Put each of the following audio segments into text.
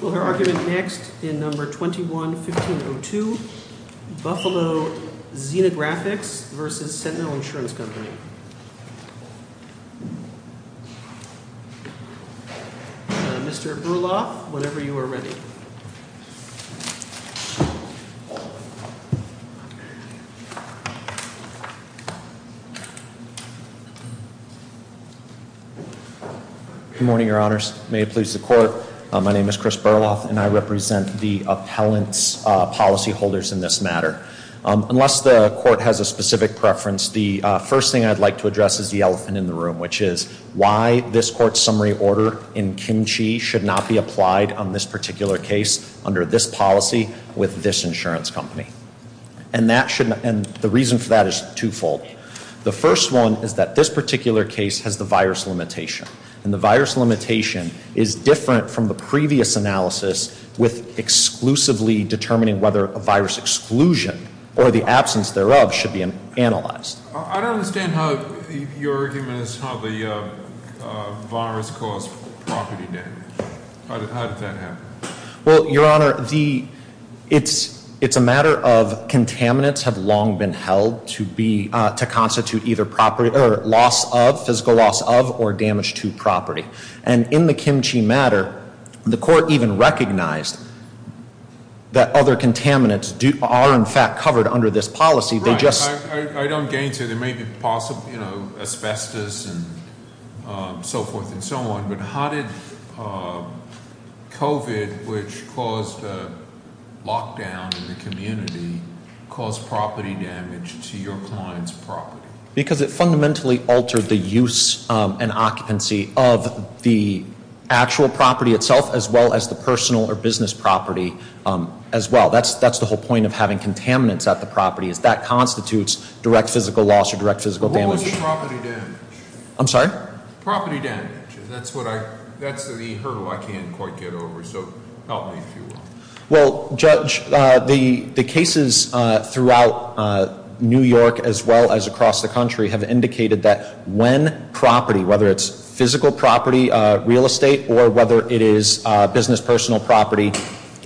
Will her argument next in number 21-1502, Buffalo Xerographix v. Sentinel Insurance Company. Mr. Bruloff, whenever you are ready. Good morning, your honors. May it please the court. My name is Chris Bruloff and I represent the appellant's policyholders in this matter. Unless the court has a specific preference, the first thing I'd like to address is the elephant in the room, which is why this court's summary order in Kim Chi should not be applied on this particular case under this policy with this insurance company. And the reason for that is twofold. The first one is that this particular case has the virus limitation. And the virus limitation is different from the previous analysis with exclusively determining whether a virus exclusion or the absence thereof should be analyzed. I don't understand how your argument is how the virus caused property damage. How did that happen? Well, your honor, it's a matter of contaminants have long been held to constitute either loss of, physical loss of, or damage to property. And in the Kim Chi matter, the court even recognized that other contaminants are in fact covered under this policy. I don't gain to there may be possible asbestos and so forth and so on. But how did COVID, which caused a lockdown in the community, cause property damage to your client's property? Because it fundamentally altered the use and occupancy of the actual property itself, as well as the personal or business property as well. That's the whole point of having contaminants at the property. That constitutes direct physical loss or direct physical damage. What was the property damage? I'm sorry? Property damage. That's the hurdle I can't quite get over. So help me if you will. Well, Judge, the cases throughout New York as well as across the country have indicated that when property, whether it's physical property, real estate, or whether it is business personal property,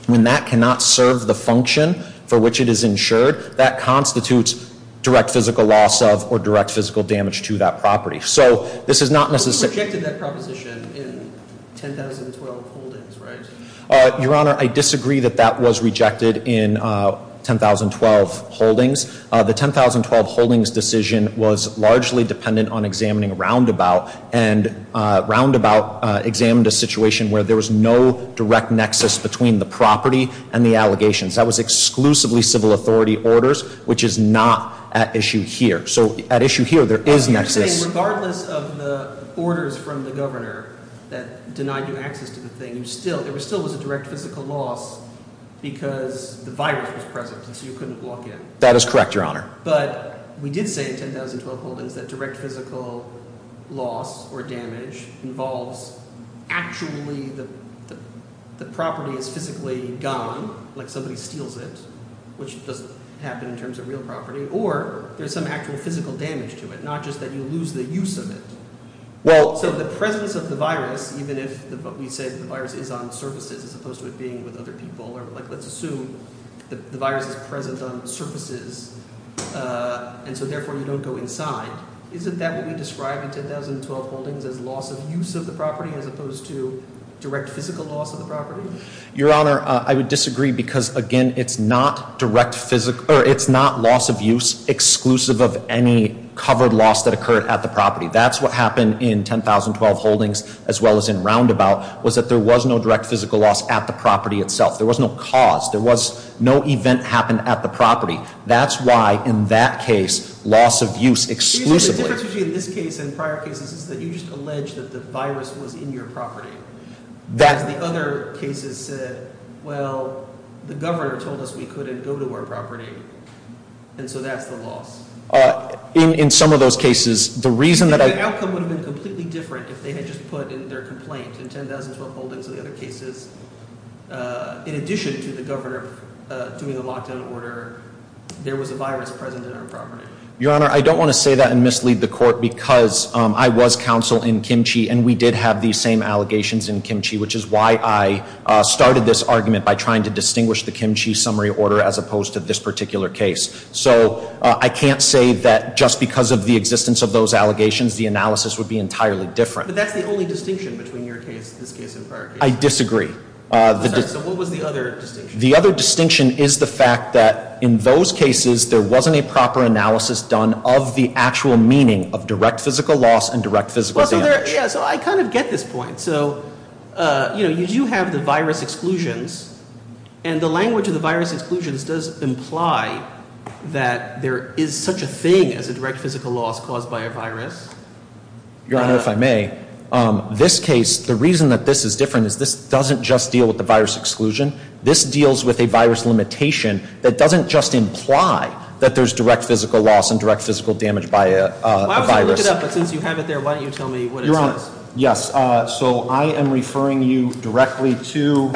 when that cannot serve the function for which it is insured, that constitutes direct physical loss of or direct physical damage to that property. So this is not necessarily. But you rejected that proposition in 10,012 holdings, right? Your Honor, I disagree that that was rejected in 10,012 holdings. The 10,012 holdings decision was largely dependent on examining Roundabout. And Roundabout examined a situation where there was no direct nexus between the property and the allegations. That was exclusively civil authority orders, which is not at issue here. So at issue here, there is nexus. You're saying regardless of the orders from the governor that denied you access to the thing, it still was a direct physical loss because the virus was present, so you couldn't walk in. That is correct, Your Honor. But we did say in 10,012 holdings that direct physical loss or damage involves actually the property is physically gone, like somebody steals it, which doesn't happen in terms of real property. Or there's some actual physical damage to it, not just that you lose the use of it. So the presence of the virus, even if we say the virus is on surfaces as opposed to it being with other people, or let's assume the virus is present on surfaces and so therefore you don't go inside, isn't that what we describe in 10,012 holdings as loss of use of the property as opposed to direct physical loss of the property? Your Honor, I would disagree because, again, it's not direct physical – or it's not loss of use exclusive of any covered loss that occurred at the property. That's what happened in 10,012 holdings as well as in Roundabout was that there was no direct physical loss at the property itself. There was no cause. There was no event that happened at the property. That's why in that case loss of use exclusively – The difference between this case and prior cases is that you just alleged that the virus was in your property. The other cases said, well, the governor told us we couldn't go to our property, and so that's the loss. In some of those cases, the reason that I – The outcome would have been completely different if they had just put in their complaint. In 10,012 holdings of the other cases, in addition to the governor doing a lockdown order, there was a virus present in our property. Your Honor, I don't want to say that and mislead the court because I was counsel in Kim Chi, and we did have these same allegations in Kim Chi, which is why I started this argument by trying to distinguish the Kim Chi summary order as opposed to this particular case. So I can't say that just because of the existence of those allegations, the analysis would be entirely different. But that's the only distinction between your case, this case, and prior cases. I disagree. I'm sorry. So what was the other distinction? The other distinction is the fact that in those cases, there wasn't a proper analysis done of the actual meaning of direct physical loss and direct physical damage. Yeah, so I kind of get this point. You do have the virus exclusions, and the language of the virus exclusions does imply that there is such a thing as a direct physical loss caused by a virus. Your Honor, if I may, this case, the reason that this is different is this doesn't just deal with the virus exclusion. This deals with a virus limitation that doesn't just imply that there's direct physical loss and direct physical damage by a virus. Why don't you look it up, but since you have it there, why don't you tell me what it says? Yes, so I am referring you directly to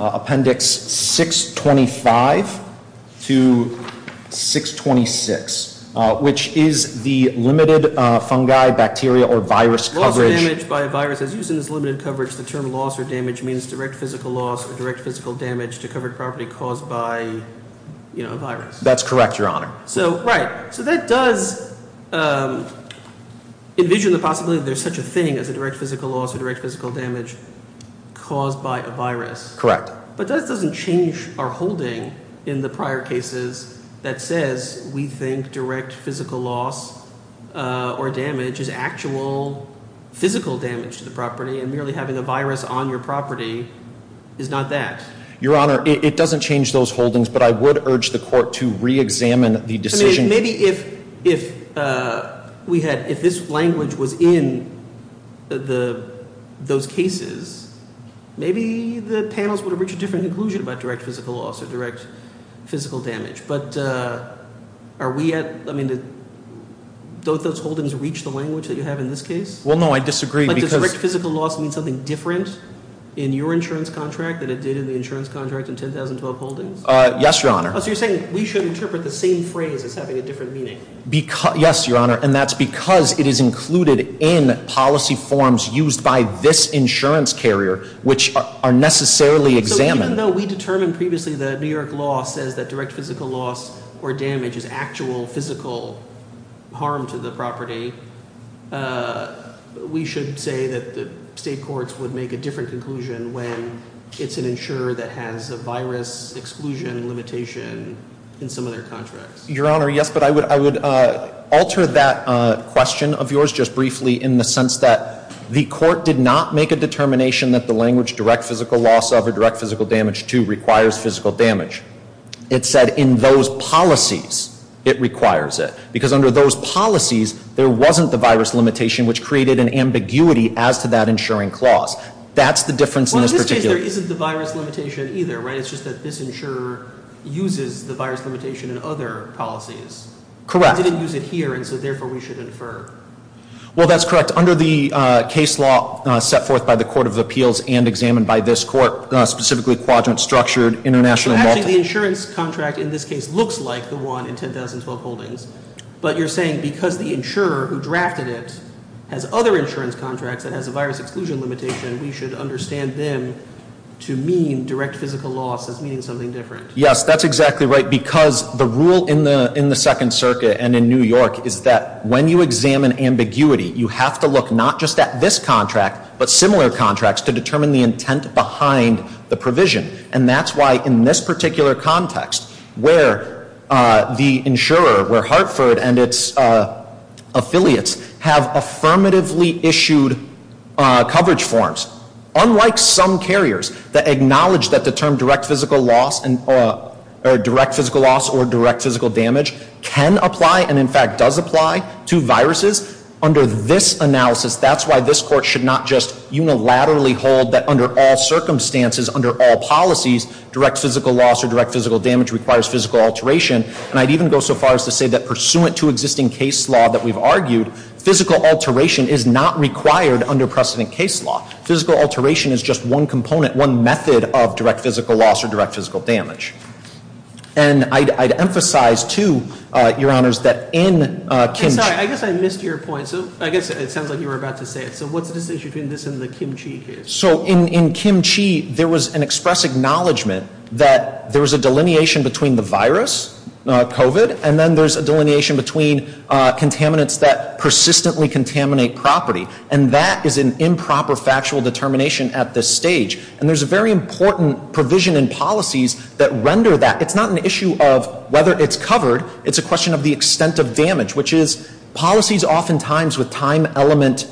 Appendix 625 to 626, which is the limited fungi, bacteria, or virus coverage. Loss or damage by a virus, as used in this limited coverage, the term loss or damage means direct physical loss or direct physical damage to covered property caused by a virus. That's correct, Your Honor. Right, so that does envision the possibility that there's such a thing as a direct physical loss or direct physical damage caused by a virus. Correct. But that doesn't change our holding in the prior cases that says we think direct physical loss or damage is actual physical damage to the property, and merely having a virus on your property is not that. Your Honor, it doesn't change those holdings, but I would urge the court to reexamine the decision. Maybe if this language was in those cases, maybe the panels would have reached a different conclusion about direct physical loss or direct physical damage. But are we at, I mean, don't those holdings reach the language that you have in this case? Well, no, I disagree. But does direct physical loss mean something different in your insurance contract than it did in the insurance contract in 10,012 holdings? Yes, Your Honor. So you're saying we should interpret the same phrase as having a different meaning? Yes, Your Honor, and that's because it is included in policy forms used by this insurance carrier, which are necessarily examined. Even though we determined previously that New York law says that direct physical loss or damage is actual physical harm to the property, we should say that the state courts would make a different conclusion when it's an insurer that has a virus exclusion limitation in some of their contracts. Your Honor, yes, but I would alter that question of yours just briefly in the sense that the court did not make a determination that the language direct physical loss of or direct physical damage to requires physical damage. It said in those policies, it requires it. Because under those policies, there wasn't the virus limitation, which created an ambiguity as to that insuring clause. That's the difference in this particular case. So there isn't the virus limitation either, right? It's just that this insurer uses the virus limitation in other policies. Correct. They didn't use it here, and so therefore we should infer. Well, that's correct. Under the case law set forth by the Court of Appeals and examined by this court, specifically Quadrant Structured International… Actually, the insurance contract in this case looks like the one in 10,012 holdings. But you're saying because the insurer who drafted it has other insurance contracts that has a virus exclusion limitation, we should understand them to mean direct physical loss as meaning something different. Yes, that's exactly right because the rule in the Second Circuit and in New York is that when you examine ambiguity, you have to look not just at this contract but similar contracts to determine the intent behind the provision. And that's why in this particular context where the insurer, where Hartford and its affiliates have affirmatively issued coverage forms, unlike some carriers that acknowledge that the term direct physical loss or direct physical damage can apply and in fact does apply to viruses, under this analysis, that's why this court should not just unilaterally hold that under all circumstances, under all policies, direct physical loss or direct physical damage requires physical alteration. And I'd even go so far as to say that pursuant to existing case law that we've argued, physical alteration is not required under precedent case law. Physical alteration is just one component, one method of direct physical loss or direct physical damage. And I'd emphasize too, Your Honors, that in... I'm sorry, I guess I missed your point. So I guess it sounds like you were about to say it. So what's the distinction between this and the Kim Chi case? So in Kim Chi, there was an express acknowledgment that there was a delineation between the virus, COVID, and then there's a delineation between contaminants that persistently contaminate property. And that is an improper factual determination at this stage. And there's a very important provision in policies that render that. It's not an issue of whether it's covered. It's a question of the extent of damage, which is policies oftentimes with time element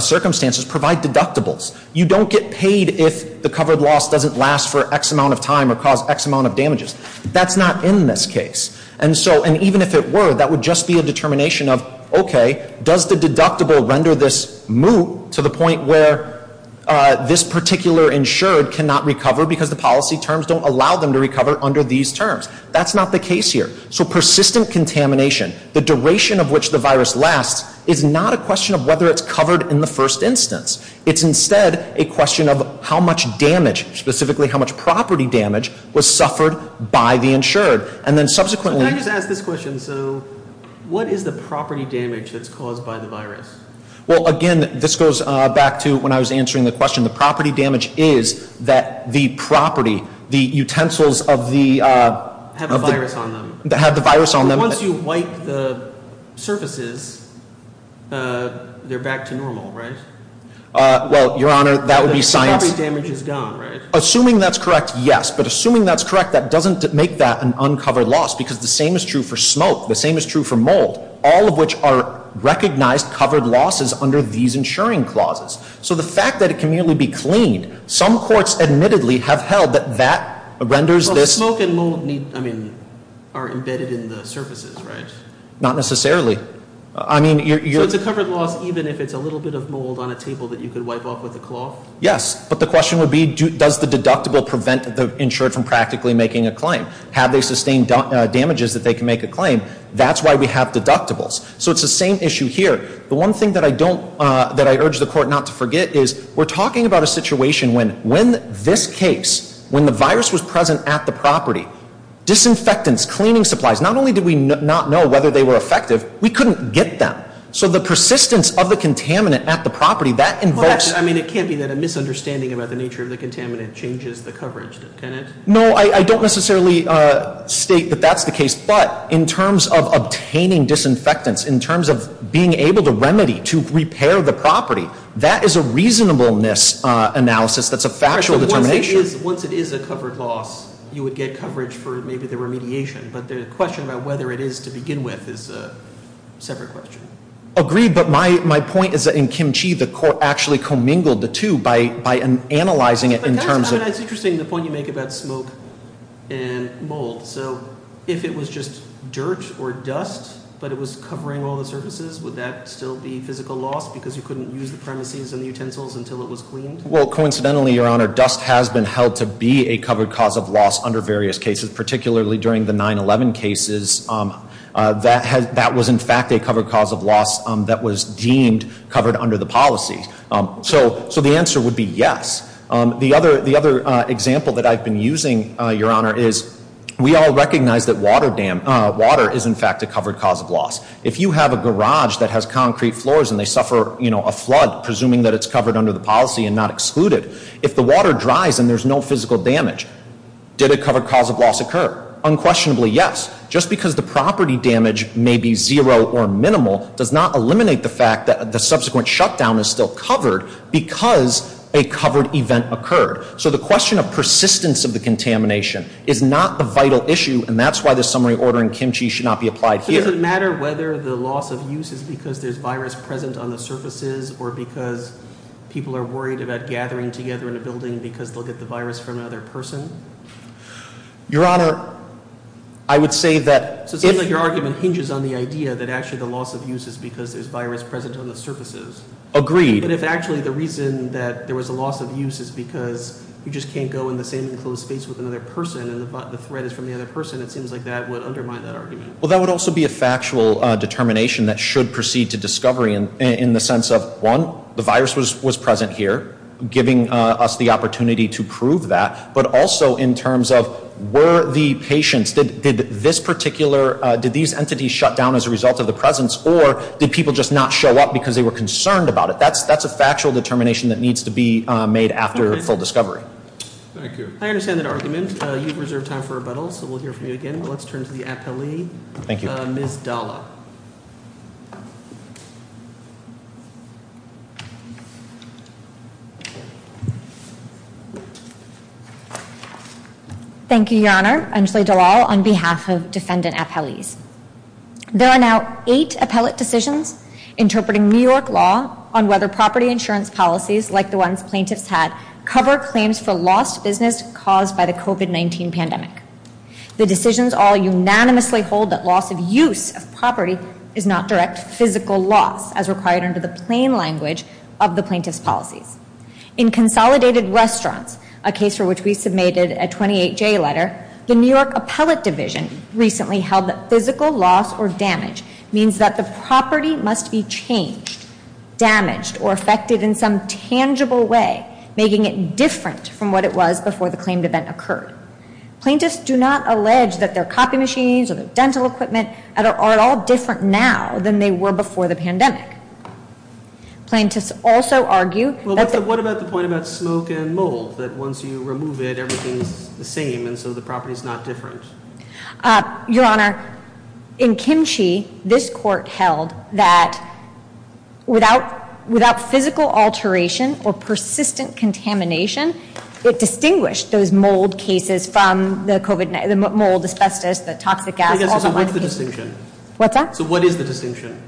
circumstances provide deductibles. You don't get paid if the covered loss doesn't last for X amount of time or cause X amount of damages. That's not in this case. And so, and even if it were, that would just be a determination of, okay, does the deductible render this moot to the point where this particular insured cannot recover because the policy terms don't allow them to recover under these terms? That's not the case here. So persistent contamination, the duration of which the virus lasts, is not a question of whether it's covered in the first instance. It's instead a question of how much damage, specifically how much property damage, was suffered by the insured. And then subsequently- Can I just ask this question? So what is the property damage that's caused by the virus? Well, again, this goes back to when I was answering the question. The property damage is that the property, the utensils of the- Have a virus on them. Have the virus on them. Once you wipe the surfaces, they're back to normal, right? Well, Your Honor, that would be science- The property damage is gone, right? Assuming that's correct, yes. But assuming that's correct, that doesn't make that an uncovered loss because the same is true for smoke. The same is true for mold, all of which are recognized covered losses under these insuring clauses. So the fact that it can merely be cleaned, some courts admittedly have held that that renders this- Not necessarily. So it's a covered loss even if it's a little bit of mold on a table that you could wipe off with a cloth? Yes. But the question would be, does the deductible prevent the insured from practically making a claim? Have they sustained damages that they can make a claim? That's why we have deductibles. So it's the same issue here. The one thing that I urge the Court not to forget is we're talking about a situation when this case, when the virus was present at the property, disinfectants, cleaning supplies, not only did we not know whether they were effective, we couldn't get them. So the persistence of the contaminant at the property, that invokes- I mean, it can't be that a misunderstanding about the nature of the contaminant changes the coverage, can it? No, I don't necessarily state that that's the case. But in terms of obtaining disinfectants, in terms of being able to remedy, to repair the property, that is a reasonableness analysis that's a factual determination. Once it is a covered loss, you would get coverage for maybe the remediation. But the question about whether it is to begin with is a separate question. Agreed. But my point is that in Kim Chi, the Court actually commingled the two by analyzing it in terms of- It's interesting the point you make about smoke and mold. So if it was just dirt or dust, but it was covering all the surfaces, would that still be physical loss because you couldn't use the premises and the utensils until it was cleaned? Well, coincidentally, Your Honor, dust has been held to be a covered cause of loss under various cases, particularly during the 9-11 cases. That was, in fact, a covered cause of loss that was deemed covered under the policy. So the answer would be yes. The other example that I've been using, Your Honor, is we all recognize that water is, in fact, a covered cause of loss. If you have a garage that has concrete floors and they suffer a flood, presuming that it's covered under the policy and not excluded, if the water dries and there's no physical damage, did a covered cause of loss occur? Unquestionably, yes. Just because the property damage may be zero or minimal does not eliminate the fact that the subsequent shutdown is still covered because a covered event occurred. So the question of persistence of the contamination is not the vital issue, and that's why the summary order in Kim Chi should not be applied here. Does it matter whether the loss of use is because there's virus present on the surfaces or because people are worried about gathering together in a building because they'll get the virus from another person? Your Honor, I would say that if— So it seems like your argument hinges on the idea that actually the loss of use is because there's virus present on the surfaces. Agreed. But if actually the reason that there was a loss of use is because you just can't go in the same enclosed space with another person and the threat is from the other person, it seems like that would undermine that argument. Well, that would also be a factual determination that should proceed to discovery in the sense of, one, the virus was present here, giving us the opportunity to prove that. But also in terms of were the patients, did this particular, did these entities shut down as a result of the presence, or did people just not show up because they were concerned about it? That's a factual determination that needs to be made after full discovery. I understand that argument. You've reserved time for rebuttal, so we'll hear from you again. Let's turn to the appellee. Thank you. Ms. Dalla. Thank you, Your Honor. On behalf of defendant appellees. There are now eight appellate decisions interpreting New York law on whether property insurance policies like the ones plaintiffs had cover claims for lost business caused by the COVID-19 pandemic. The decisions all unanimously hold that loss of use of property is not direct physical loss as required under the plain language of the plaintiff's policies. In Consolidated Restaurants, a case for which we submitted a 28-J letter, the New York Appellate Division recently held that physical loss or damage means that the property must be changed, damaged, or affected in some tangible way, making it different from what it was before the claimed event occurred. Plaintiffs do not allege that their copy machines or their dental equipment are at all different now than they were before the pandemic. Plaintiffs also argue... Well, what about the point about smoke and mold? That once you remove it, everything's the same, and so the property's not different. Your Honor, in Kim Chi, this court held that without physical alteration or persistent contamination, it distinguished those mold cases from the mold, asbestos, the toxic gas... So what's the distinction? What's that? So what is the distinction?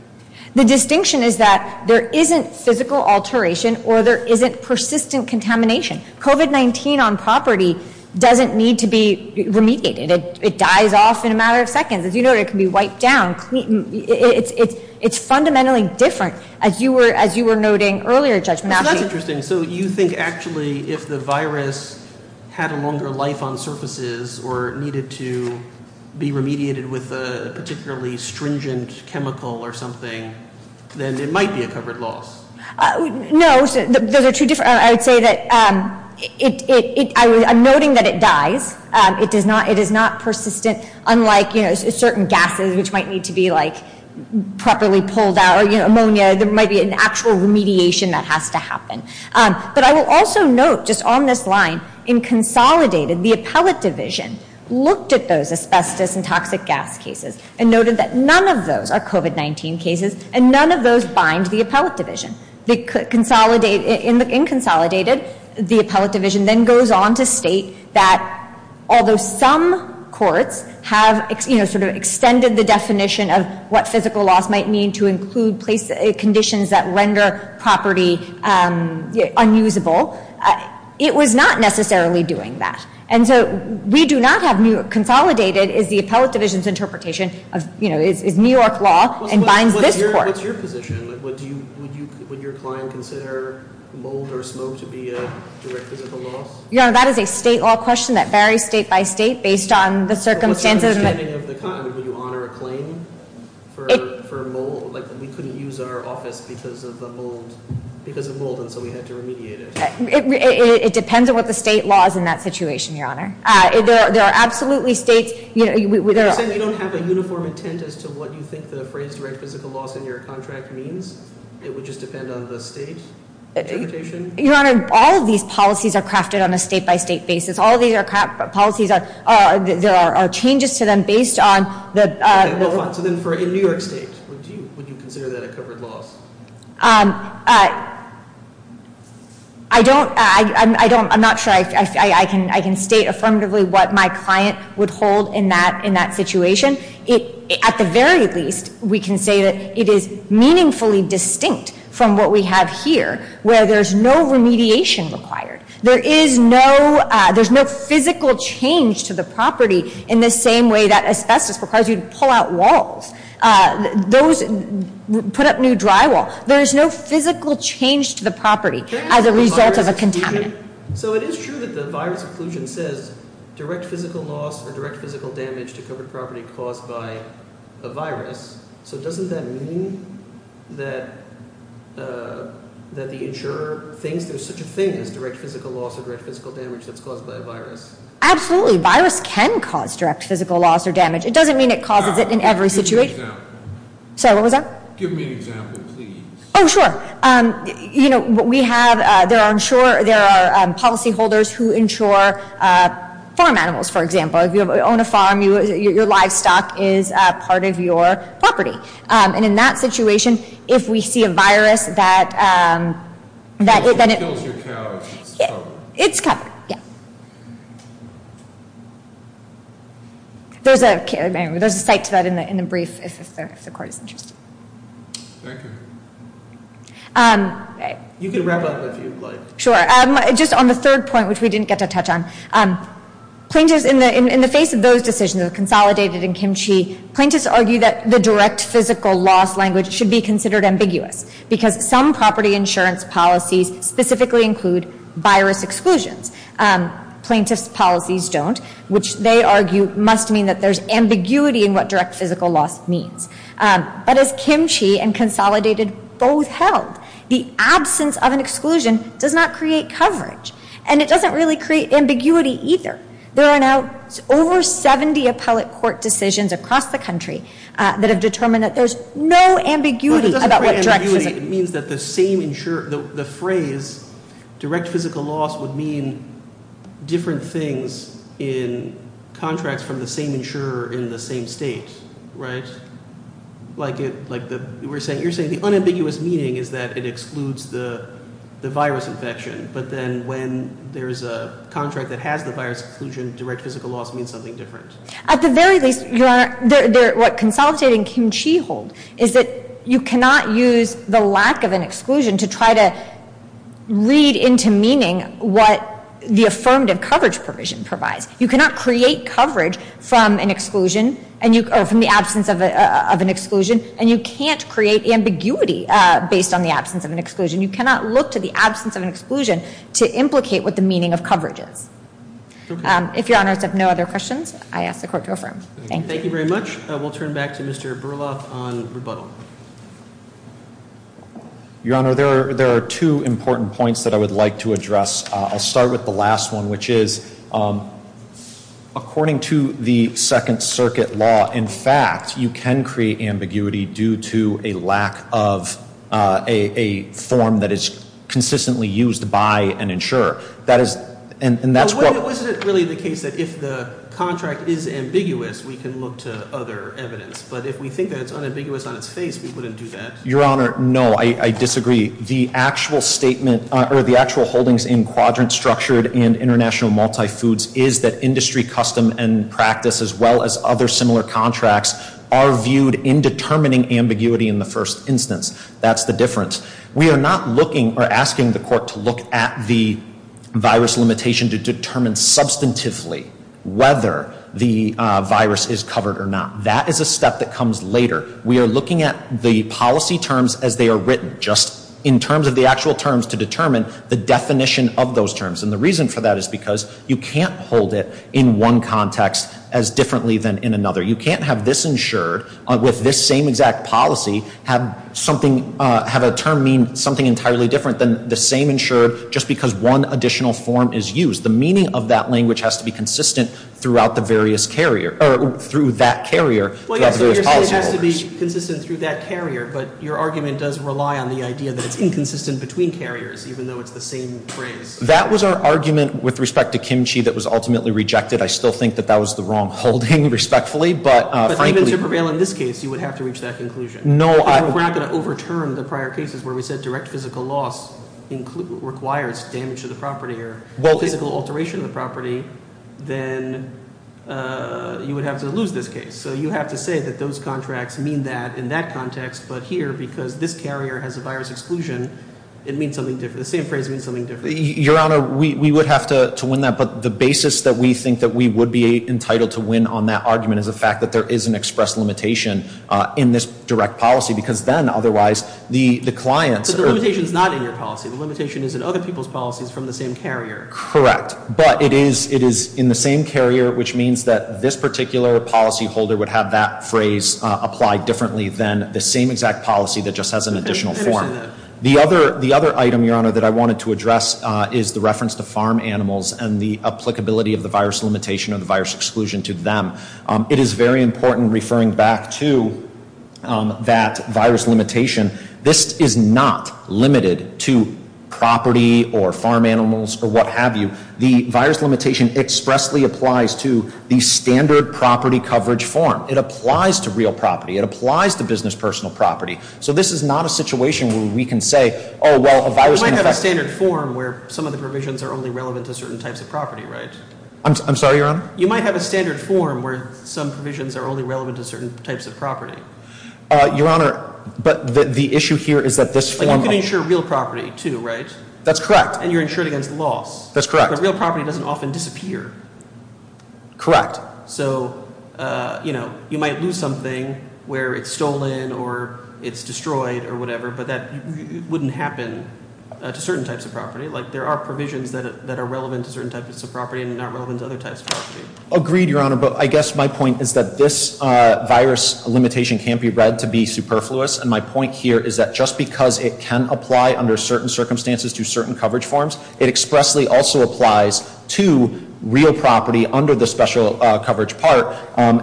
The distinction is that there isn't physical alteration or there isn't persistent contamination. COVID-19 on property doesn't need to be remediated. It dies off in a matter of seconds. As you know, it can be wiped down. It's fundamentally different, as you were noting earlier, Judge Matthews. That's interesting. So you think actually if the virus had a longer life on surfaces or needed to be remediated with a particularly stringent chemical or something, then it might be a covered loss? No. Those are two different... I would say that... I'm noting that it dies. It is not persistent. Unlike certain gases, which might need to be properly pulled out or ammonia, there might be an actual remediation that has to happen. But I will also note just on this line, in consolidated, the appellate division looked at those asbestos and toxic gas cases and noted that none of those are COVID-19 cases and none of those bind the appellate division. In consolidated, the appellate division then goes on to state that although some courts have sort of extended the definition of what physical loss might mean to include conditions that render property unusable, it was not necessarily doing that. And so we do not have new... Consolidated is the appellate division's interpretation of New York law and binds this court. What's your position? Would your client consider mold or smoke to be a direct physical loss? Your Honor, that is a state law question that varies state by state based on the circumstances... What's your understanding of the... I mean, would you honor a claim for mold? Like, we couldn't use our office because of mold, and so we had to remediate it. It depends on what the state law is in that situation, Your Honor. There are absolutely states... So you're saying you don't have a uniform intent as to what you think the phrase direct physical loss in your contract means? It would just depend on the state interpretation? Your Honor, all of these policies are crafted on a state by state basis. All of these policies are... There are changes to them based on the... Okay, well, fine. So then for a New York state, would you consider that a covered loss? I don't... I'm not sure I can state affirmatively what my client would hold in that situation. At the very least, we can say that it is meaningfully distinct from what we have here, where there's no remediation required. There is no... There's no physical change to the property in the same way that asbestos requires you to pull out walls. Those... Put up new drywall. There is no physical change to the property as a result of a contaminant. So it is true that the virus occlusion says direct physical loss or direct physical damage to covered property caused by a virus. So doesn't that mean that the insurer thinks there's such a thing as direct physical loss or direct physical damage that's caused by a virus? Absolutely. Virus can cause direct physical loss or damage. It doesn't mean it causes it in every situation. Give me an example. Sorry, what was that? Give me an example, please. Oh, sure. You know, we have... There are policyholders who insure farm animals, for example. If you own a farm, your livestock is part of your property. And in that situation, if we see a virus that... If it kills your cow, it's covered. It's covered, yeah. There's a... There's a site to that in the brief if the court is interested. Thank you. You can wrap up if you'd like. Sure. Just on the third point, which we didn't get to touch on. Plaintiffs, in the face of those decisions, the consolidated and Kim Chi, plaintiffs argue that the direct physical loss language should be considered ambiguous. Because some property insurance policies specifically include virus exclusions. Plaintiffs' policies don't, which they argue must mean that there's ambiguity in what direct physical loss means. But as Kim Chi and consolidated both held, the absence of an exclusion does not create coverage. And it doesn't really create ambiguity either. There are now over 70 appellate court decisions across the country that have determined that there's no ambiguity about what direct physical... Different things in contracts from the same insurer in the same state, right? Like we're saying, you're saying the unambiguous meaning is that it excludes the virus infection. But then when there's a contract that has the virus exclusion, direct physical loss means something different. At the very least, Your Honor, what consolidated and Kim Chi hold is that you cannot use the lack of an exclusion to try to read into meaning what the affirmative coverage provision provides. You cannot create coverage from an exclusion, or from the absence of an exclusion, and you can't create ambiguity based on the absence of an exclusion. You cannot look to the absence of an exclusion to implicate what the meaning of coverage is. If Your Honors have no other questions, I ask the court to affirm. Thank you. Thank you very much. We'll turn back to Mr. Berloff on rebuttal. Your Honor, there are two important points that I would like to address. I'll start with the last one, which is, according to the Second Circuit law, in fact, you can create ambiguity due to a lack of a form that is consistently used by an insurer. Wasn't it really the case that if the contract is ambiguous, we can look to other evidence? But if we think that it's unambiguous on its face, we wouldn't do that. Your Honor, no, I disagree. The actual statement, or the actual holdings in Quadrant Structured and International Multifoods is that industry custom and practice, as well as other similar contracts, are viewed in determining ambiguity in the first instance. That's the difference. We are not looking or asking the court to look at the virus limitation to determine substantively whether the virus is covered or not. That is a step that comes later. We are looking at the policy terms as they are written, just in terms of the actual terms to determine the definition of those terms. And the reason for that is because you can't hold it in one context as differently than in another. You can't have this insured with this same exact policy, have something, have a term mean something entirely different than the same insured just because one additional form is used. The meaning of that language has to be consistent throughout the various carrier, or through that carrier, throughout the various policyholders. Well, yes, so you're saying it has to be consistent through that carrier, but your argument does rely on the idea that it's inconsistent between carriers, even though it's the same phrase. That was our argument with respect to Kimchi that was ultimately rejected. I still think that that was the wrong holding, respectfully, but frankly— But even to prevail in this case, you would have to reach that conclusion. No, I— We're not going to overturn the prior cases where we said direct physical loss requires damage to the property or physical alteration of the property. Then you would have to lose this case. So you have to say that those contracts mean that in that context, but here, because this carrier has a virus exclusion, it means something different. The same phrase means something different. Your Honor, we would have to win that, but the basis that we think that we would be entitled to win on that argument is the fact that there is an express limitation in this direct policy because then, otherwise, the clients— But the limitation is not in your policy. The limitation is in other people's policies from the same carrier. Correct, but it is in the same carrier, which means that this particular policyholder would have that phrase applied differently than the same exact policy that just has an additional form. The other item, Your Honor, that I wanted to address is the reference to farm animals and the applicability of the virus limitation or the virus exclusion to them. It is very important, referring back to that virus limitation, this is not limited to property or farm animals or what have you. The virus limitation expressly applies to the standard property coverage form. It applies to real property. It applies to business personal property. So this is not a situation where we can say, oh, well, a virus can infect— You might have a standard form where some of the provisions are only relevant to certain types of property, right? I'm sorry, Your Honor? You might have a standard form where some provisions are only relevant to certain types of property. Your Honor, but the issue here is that this form— You can insure real property, too, right? That's correct. And you're insured against loss. That's correct. But real property doesn't often disappear. Correct. So, you know, you might lose something where it's stolen or it's destroyed or whatever, but that wouldn't happen to certain types of property. Like, there are provisions that are relevant to certain types of property and not relevant to other types of property. Agreed, Your Honor. But I guess my point is that this virus limitation can't be read to be superfluous. And my point here is that just because it can apply under certain circumstances to certain coverage forms, it expressly also applies to real property under the special coverage part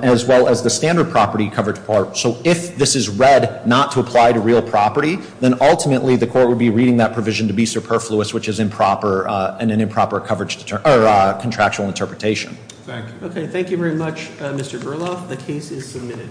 as well as the standard property coverage part. So if this is read not to apply to real property, then ultimately the court would be reading that provision to be superfluous, which is an improper contractual interpretation. Thank you. Okay, thank you very much, Mr. Berloff. The case is submitted.